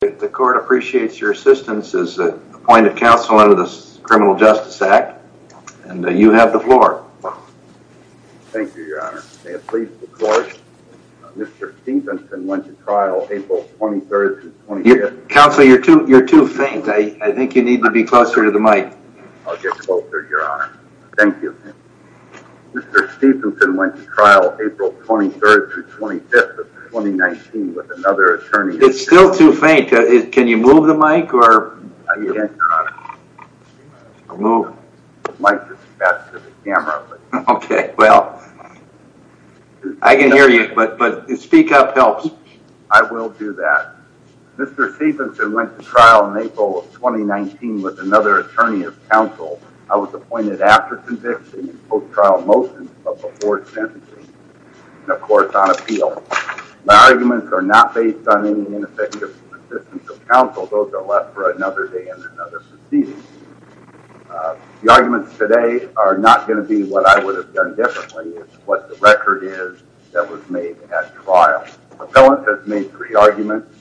The court appreciates your assistance as appointed counsel under the Criminal Justice Act and you have the floor Counselor you're too you're too faint. I I think you need to be closer to the mic Thank you Stevenson went to trial April 23rd to 25th 2019 with another attorney. It's still too faint. Can you move the mic or? Move Okay, well I Can hear you but but speak up helps I will do that Mr. Stevenson went to trial in April of 2019 with another attorney of counsel I was appointed after conviction both trial motions, but before sentencing Of course on appeal my arguments are not based on any Counsel those are left for another day and another The arguments today are not going to be what I would have done differently What the record is that was made at trial? Appellant has made three arguments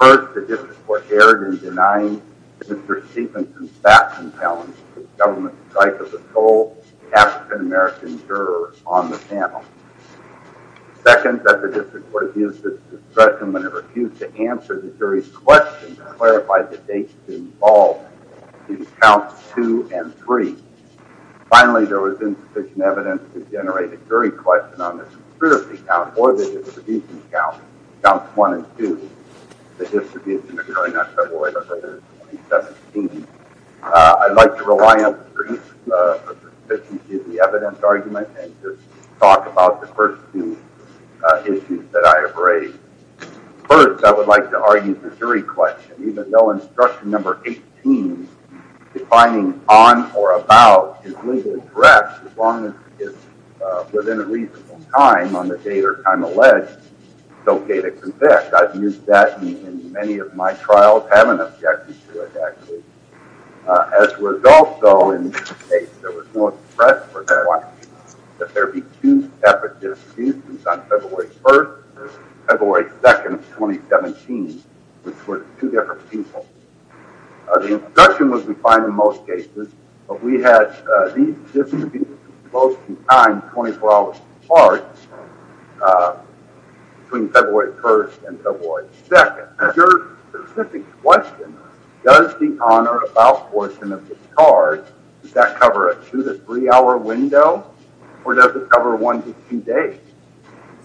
First the district court erred in denying Mr. Stevenson's facts and talents to the government's strife of the sole African-American juror on the panel Second that the district would have used this discretion when it refused to answer the jury's questions and clarify the dates involved these counts two and three Finally there was insufficient evidence to generate a jury question on this Account or the distribution account counts one and two the distribution occurring on February 2017 I'd like to rely on The evidence argument and just talk about the first two Issues that I have raised First I would like to argue the jury question even though instruction number 18 Defining on or about his legal address as long as it's within a reasonable time on the date or time alleged So K to convict I've used that in many of my trials have an objective to it actually As was also in That there be two separate discussions on February 1st February 2nd 2017 which were two different people The instruction was we find in most cases, but we had these discussions close to time 24 hours apart Between February 1st and February 2nd Your specific question does the honor about portion of the card does that cover it through the three-hour window Or does it cover one to two days?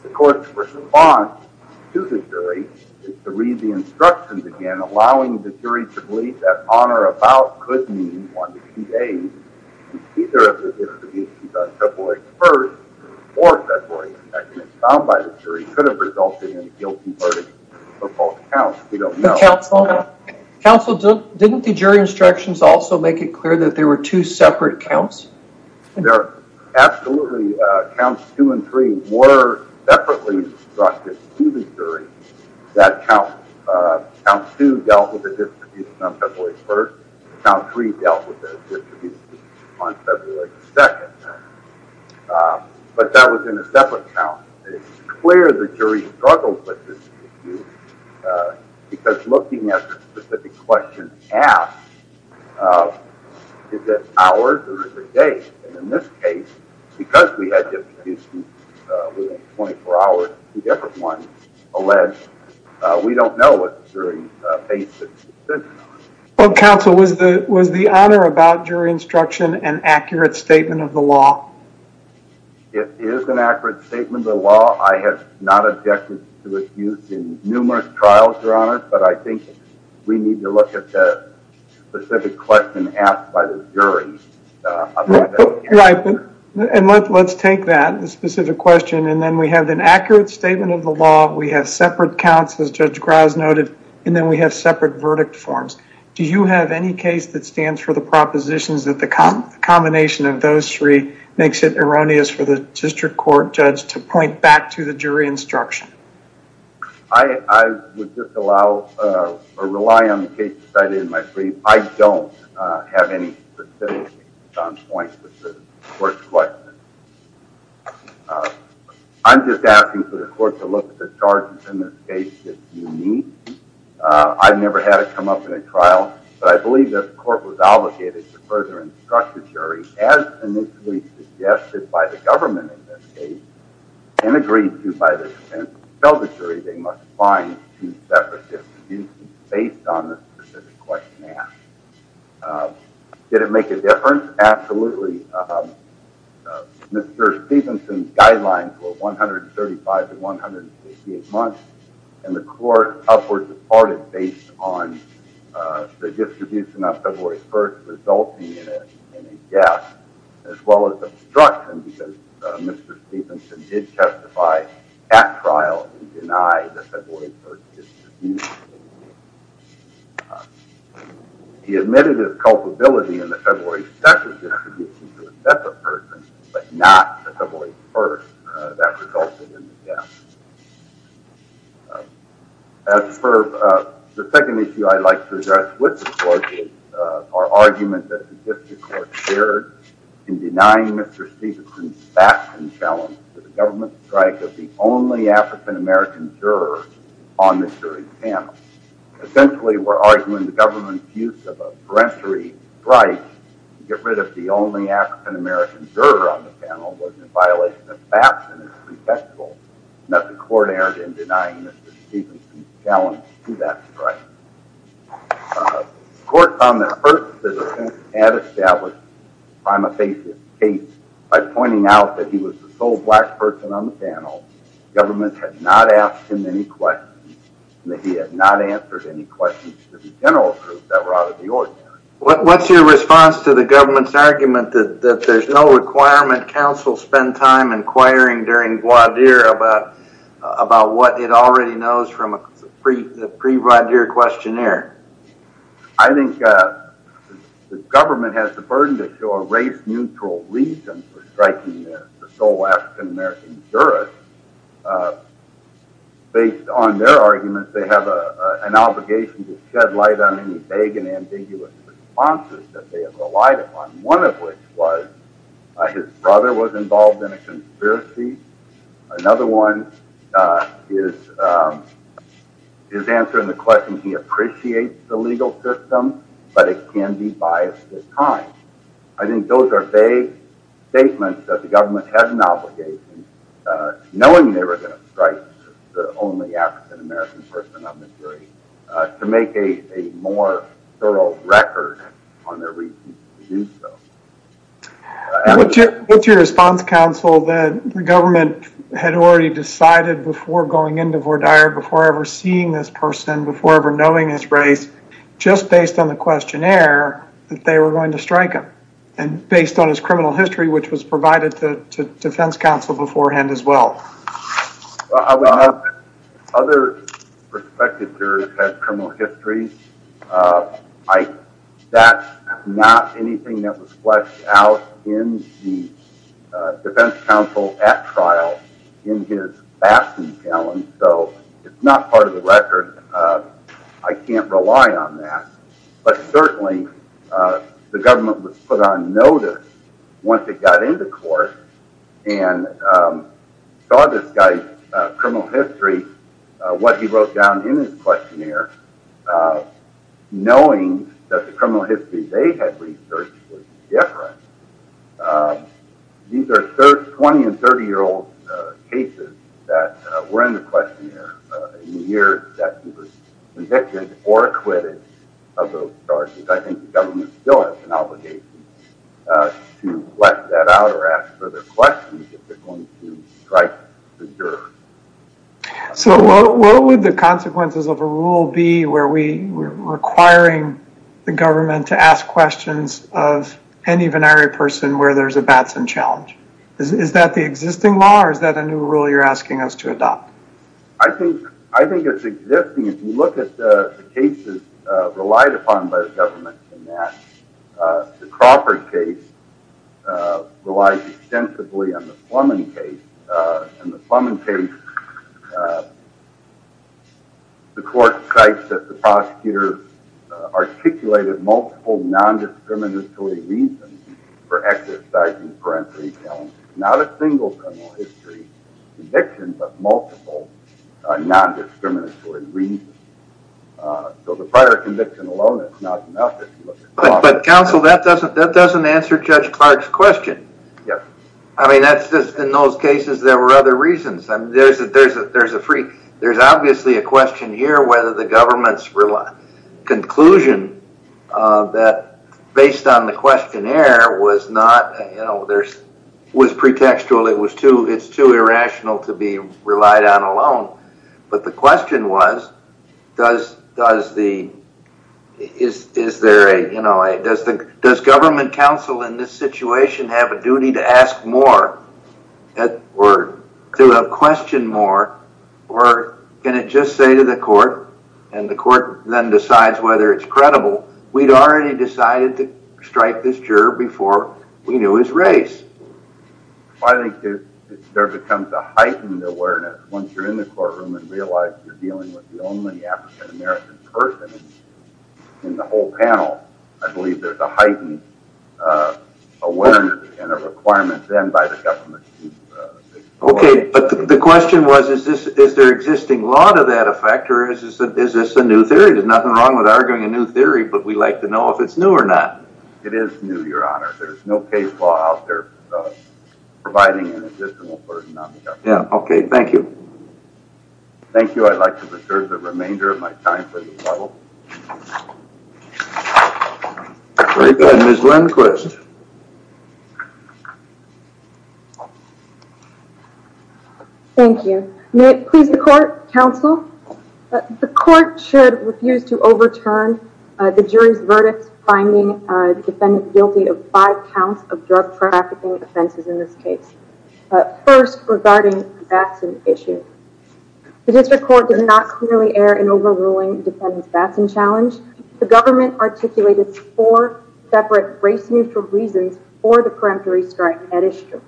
The court's response to the jury is to read the instructions again Allowing the jury to believe that honor about could mean one to two days Either of the distributions on February 1st or February 2nd found by the jury could have resulted in a guilty verdict We don't know counsel counsel didn't the jury instructions also make it clear that there were two separate counts there Absolutely counts two and three were separately instructed to the jury that count Count two dealt with the distribution of February 1st count three dealt with on February 2nd But that was in a separate count it's clear the jury struggled with this Because looking at the specific questions asked Is it hours or is it days? And in this case because we had this 24-hour two different ones alleged we don't know what the jury based its decision on Well counsel was the was the honor about jury instruction an accurate statement of the law It is an accurate statement of the law I have not objected to it used in numerous trials are on it but I think we need to look at the specific question asked by the jury Right and let's take that the specific question and then we have an accurate statement of the law We have separate counts as judge Grimes noted and then we have separate verdict forms Do you have any case that stands for the propositions that the common combination of those three? Makes it erroneous for the district court judge to point back to the jury instruction. I Would just allow or rely on the case decided in my brief. I don't have any points I'm just asking for the court to look at the charges in this case if you need I've never had it come up in a trial, but I believe this court was obligated to further instruct the jury as Suggested by the government in this case And agreed to by the sense of elvatory. They must find two separate based on the Did it make a difference absolutely Mr. Stephenson guidelines were 135 to 158 months and the court upward departed based on the distribution of February 1st resulting in a As well as the destruction because mr. Stephenson did testify at trial denied He admitted his culpability in the February That's a person but not the way first that resulted in the death As for the second issue I'd like to address with the court is our argument that Third in denying mr. Stephenson facts and challenge to the government strike of the only african-american jurors on the jury's panel Essentially, we're arguing the government's use of a parentery right to get rid of the only african-american Juror on the panel was in violation of facts and is pretextful Not the court erred in denying mr. Stephenson challenge to that, right? Court on the earth Had established I'm a patient eight by pointing out that he was the sole black person on the panel Government had not asked him any questions That he had not answered any questions to the general truth that were out of the ordinary What's your response to the government's argument that there's no requirement counsel spend time inquiring during Guadir about? About what it already knows from a free the pre-ride your questionnaire I think The government has the burden to show a race neutral reason for striking there the sole african-american jurors Based on their arguments they have a an obligation to shed light on any vague and ambiguous Responses that they have relied upon one of which was His brother was involved in a conspiracy another one is His answer in the question he appreciates the legal system, but it can be biased at times I think those are they Statements that the government has an obligation Knowing they were going to strike the only african-american person on the jury to make a more Thorough record on their reasons to do so What's your response counsel that the government had already decided before going into for dire before ever seeing this person before ever knowing His race just based on the questionnaire that they were going to strike him and based on his criminal history Which was provided to Defense Council beforehand as well? Other perspectives are criminal history Like that not anything that was fleshed out in the Defense Council at trial in his bastion challenge, so it's not part of the record I can't rely on that, but certainly the government was put on notice once it got into court and Saw this guy criminal history what he wrote down in his questionnaire Knowing that the criminal history they had researched was different These are 30 20 and 30 year old cases that were in the questionnaire Years that he was convicted or acquitted of those charges. I think the government still has an obligation To let that out or ask further questions if they're going to strike the juror So what would the consequences of a rule be where we Requiring the government to ask questions of any binary person where there's a batson challenge Is that the existing law or is that a new rule you're asking us to adopt? I think I think it's existing if you look at the cases relied upon by the government in that the Crawford case Relied extensively on the plumbing case and the plumbing case The court cites that the prosecutor articulated multiple nondiscriminatory reasons for exercising parenteral challenge not a single criminal history conviction but multiple nondiscriminatory reasons So the prior conviction alone is not enough But counsel that doesn't that doesn't answer judge Clark's question, yeah, I mean that's just in those cases There were other reasons and there's a there's a there's a free. There's obviously a question here whether the government's rely conclusion That based on the questionnaire was not you know, there's was pretextual It was too it's too irrational to be relied on alone. But the question was does does the Is is there a you know, I does the does government counsel in this situation have a duty to ask more that were to a question more or Can it just say to the court and the court then decides whether it's credible We'd already decided to strike this juror before we knew his race. I Think there becomes a heightened awareness once you're in the courtroom and realize you're dealing with the only African-American person In the whole panel, I believe there's a heightened Awareness and a requirement then by the government Okay, but the question was is this is there existing lot of that effect or is this a new theory? There's nothing wrong with arguing a new theory, but we like to know if it's new or not. It is new your honor There's no case law out there Providing an additional person. Yeah. Okay. Thank you Thank you, I'd like to preserve the remainder of my time Thank you, please the court counsel The court should refuse to overturn The jury's verdict finding defendant guilty of five counts of drug trafficking offenses in this case First regarding that's an issue The district court did not clearly air in overruling defendants Batson challenge The government articulated four separate race neutral reasons for the peremptory strike at issue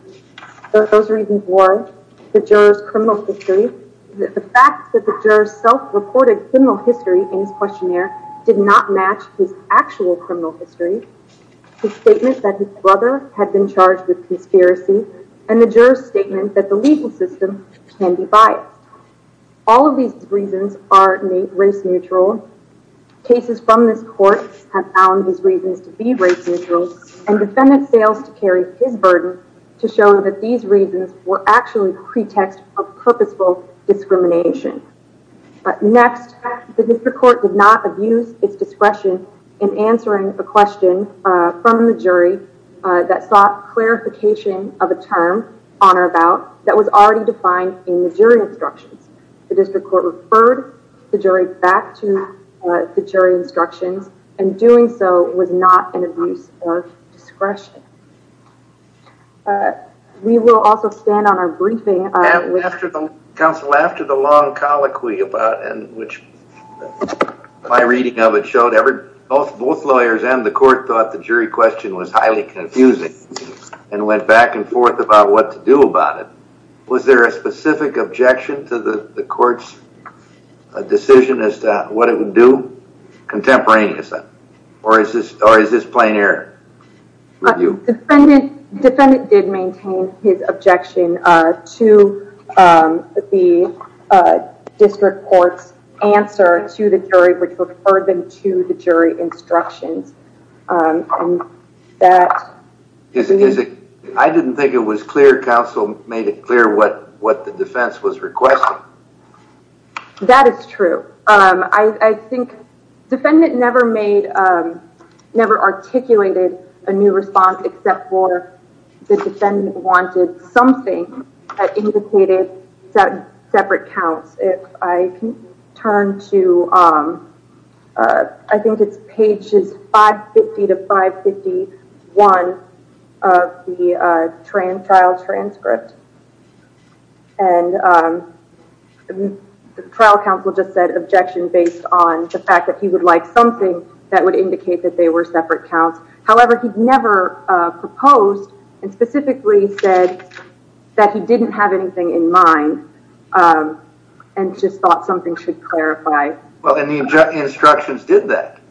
Those reasons were the jurors criminal history The fact that the jurors self-reported criminal history in his questionnaire did not match his actual criminal history The statement that his brother had been charged with conspiracy and the jurors statement that the legal system can be biased All of these reasons are in a race neutral cases from this court have found these reasons to be race neutral and Defendant fails to carry his burden to show that these reasons were actually pretext of purposeful discrimination But next the district court did not abuse its discretion in answering the question from the jury That sought clarification of a term on or about that was already defined in the jury instructions The district court referred the jury back to the jury instructions and doing so was not an abuse or discretion We will also stand on our briefing After the council after the long colloquy about and which my reading of it showed every both both lawyers and the court thought the jury question was highly confusing and Went back and forth about what to do about it. Was there a specific objection to the the courts a Decision as to what it would do Contemporaneously, or is this or is this plain air? Defendant defendant did maintain his objection to the District courts answer to the jury which referred them to the jury instructions That is it I didn't think it was clear council made it clear what what the defense was requesting That is true. I think defendant never made Never articulated a new response except for the defendant wanted something Indicated that separate counts if I can turn to I think it's pages 550 to 551 of the trial transcript and The Trial counsel just said objection based on the fact that he would like something that would indicate that they were separate counts however, he'd never proposed and specifically said That he didn't have anything in mind And just thought something should clarify. Well, then the instructions did that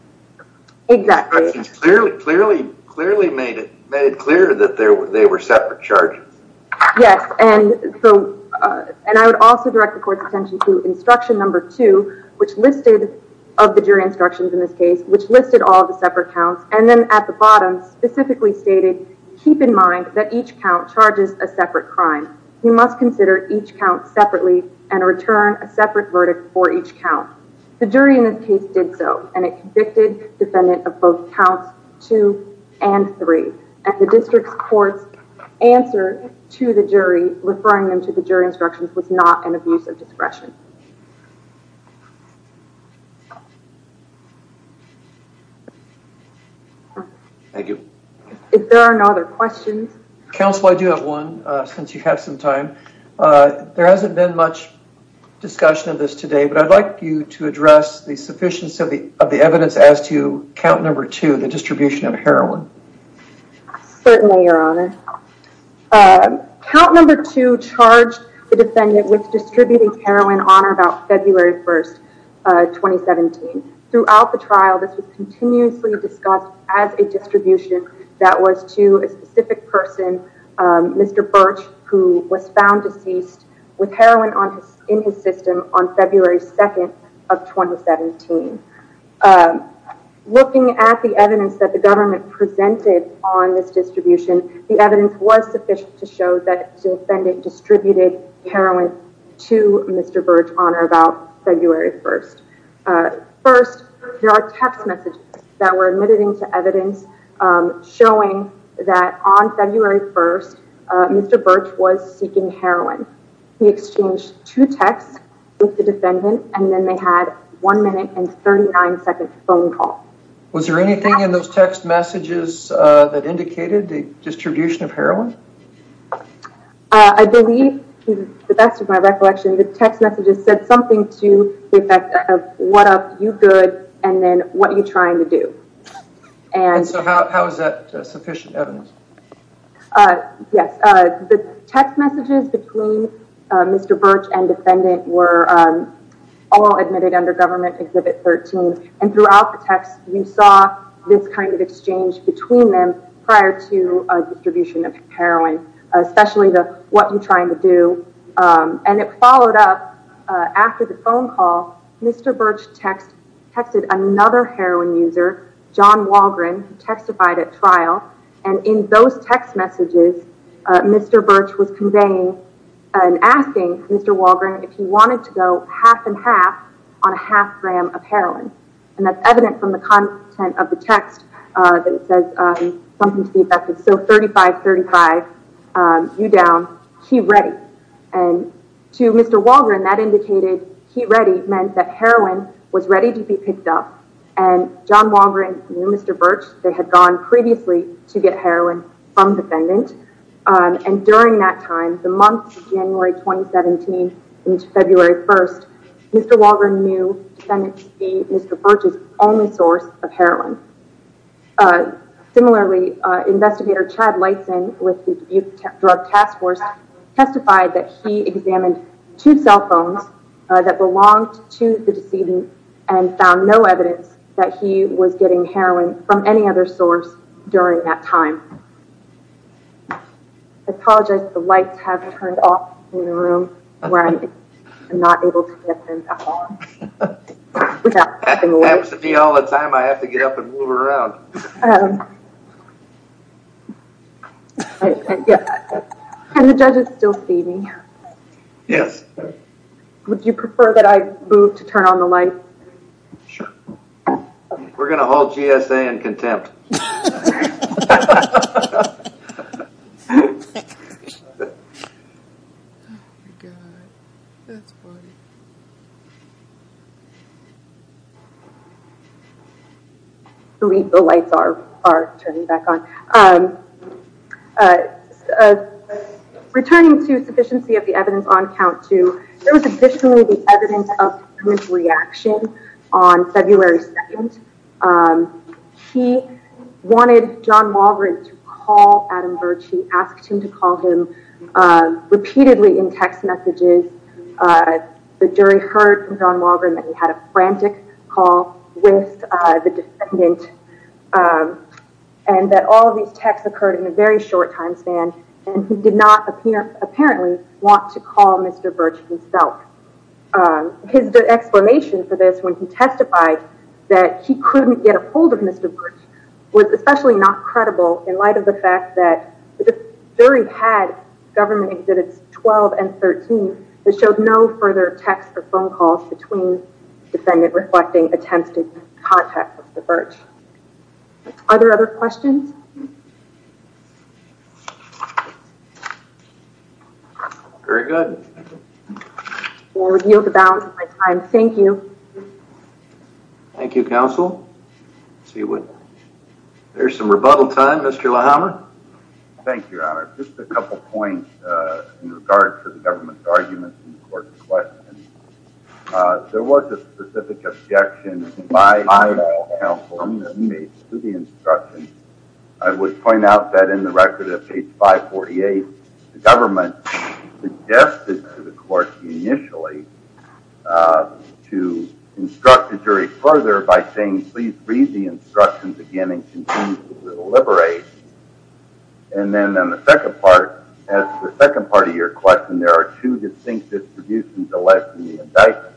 Exactly. Clearly clearly clearly made it made it clear that there were they were separate charges Yes, and so and I would also direct the court's attention to instruction number two Which listed of the jury instructions in this case, which listed all the separate counts and then at the bottom specifically stated Keep in mind that each count charges a separate crime You must consider each count separately and return a separate verdict for each count the jury in this case did so and it convicted defendant of both counts two and Three and the district court's answer to the jury referring them to the jury instructions was not an abuse of discretion Thank you, if there are no other questions Counsel, I do have one since you have some time There hasn't been much Discussion of this today, but I'd like you to address the sufficiency of the of the evidence as to count number two Distribution of heroin Certainly your honor Count number two charged the defendant with distributing heroin on or about February 1st 2017 throughout the trial this was continuously discussed as a distribution that was to a specific person Mr. Birch who was found deceased with heroin on his in his system on February 2nd of 2017 Looking at the evidence that the government presented on this distribution The evidence was sufficient to show that to offend it distributed heroin to mr. Birch honor about February 1st First there are text messages that were admitted into evidence Showing that on February 1st Mr. Birch was seeking heroin He exchanged two texts with the defendant and then they had one minute and 39 seconds phone call Was there anything in those text messages that indicated the distribution of heroin? I? Believe the best of my recollection the text messages said something to the effect of what up you good And then what are you trying to do? And so how is that sufficient evidence? Yes, the text messages between Mr. Birch and defendant were all admitted under government exhibit 13 and throughout the text you saw this kind of exchange between them prior to Distribution of heroin especially the what you trying to do And it followed up After the phone call mr. Birch text texted another heroin user John Walgren testified at trial and in those text messages Mr. Birch was conveying and asking mr Walgren if he wanted to go half and half on a half gram of heroin and that's evident from the content of the text That it says something to be affected. So 3535 you down he ready and To mr. Walgren that indicated he ready meant that heroin was ready to be picked up and John Walgren, mr. Birch they had gone previously to get heroin from defendant And during that time the month January 2017 into February 1st, mr Walgren knew tend to be mr. Birch's only source of heroin Similarly investigator Chad Lyson with the youth drug task force Testified that he examined two cell phones That belonged to the decedent and found no evidence that he was getting heroin from any other source during that time Apologize the lights have turned off in the room where I'm not able to Be all the time I have to get up and move around Um Yes, and the judges still see me yes, would you prefer that I move to turn on the light We're gonna hold GSA and contempt I Believe the lights are are turning back on Returning to sufficiency of the evidence on count to there was additionally the evidence of reaction on February 2nd He wanted John Walgren to call Adam Birch he asked him to call him repeatedly in text messages The jury heard from John Walgren that he had a frantic call with the defendant and That all these texts occurred in a very short time span and he did not appear apparently want to call mr. Birch himself His explanation for this when he testified that he couldn't get a hold of mr. Birch was especially not credible in light of the fact that the jury had government exhibits 12 and 13 that showed no further text or phone calls between defendant reflecting attempts to contact the birch Are there other questions? Very good I Thank you Thank You counsel see what There's some rebuttal time. Mr. Lahama Thank you The instruction I would point out that in the record at page 548 the government Suggested to the court initially To instruct the jury further by saying, please read the instructions again and continue to deliberate and Then on the second part as the second part of your question There are two distinct distributions electing the indictment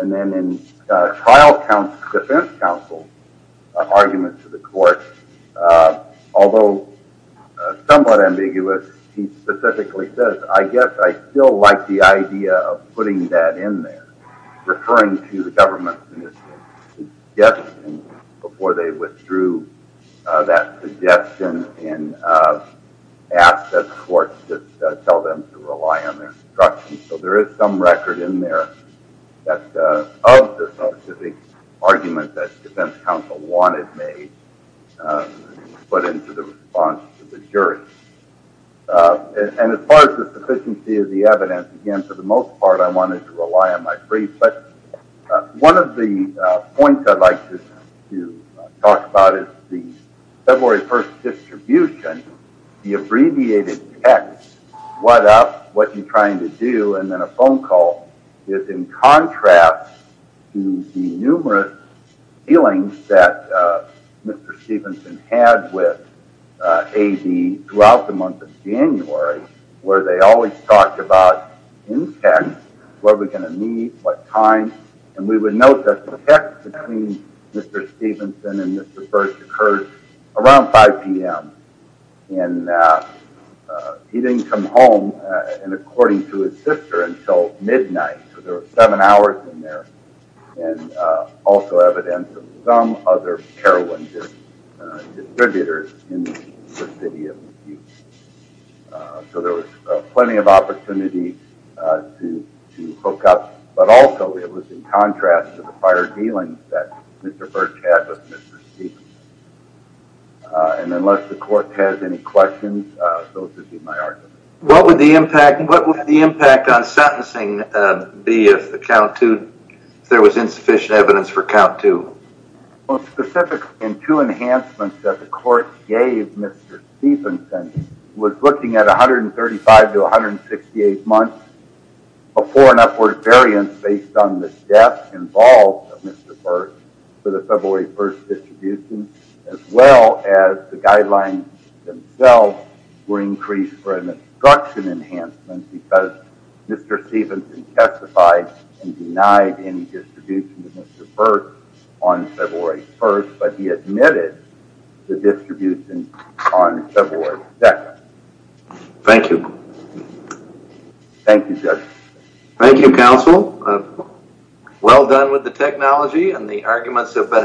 and then in trial counts defense counsel arguments to the court although Somewhat ambiguous he specifically says I guess I still like the idea of putting that in there referring to the government's Yes before they withdrew that suggestion and Asked that the court just tell them to rely on their instruction. So there is some record in there That of the specific argument that defense counsel wanted made Put into the response to the jury And as far as the sufficiency of the evidence again for the most part I wanted to rely on my brief but one of the points I'd like to Talk about is the February 1st? Distribution the abbreviated text what up what you're trying to do and then a phone call is in contrast to the numerous feelings that Mr. Stephenson had with 80 throughout the month of January Where they always talked about in fact, what are we going to need? What time and we would note that the text between? Mr. Stephenson and mr. First occurred around 5 p.m. And He didn't come home and according to his sister until midnight, so there were seven hours in there and Also evidence of some other heroin distributors in So there was plenty of opportunity To hook up but also it was in contrast to the prior dealings that mr. Birch had with mr. And unless the court has any questions Those would be my argument. What would the impact and what was the impact on sentencing? Be if the count to there was insufficient evidence for count to Well specific in two enhancements that the court gave. Mr. Stephenson was looking at a hundred and thirty-five to 168 months Before an upward variance based on the death involved of mr. Birch for the February 1st distribution as well as the guidelines Themselves were increased for an instruction enhancement because mr. Stephenson testified and denied any Distribution of mr. Birch on February 1st, but he admitted the distribution on February 2nd Thank you Thank you, sir. Thank you counsel Well done with the technology and the arguments have been helped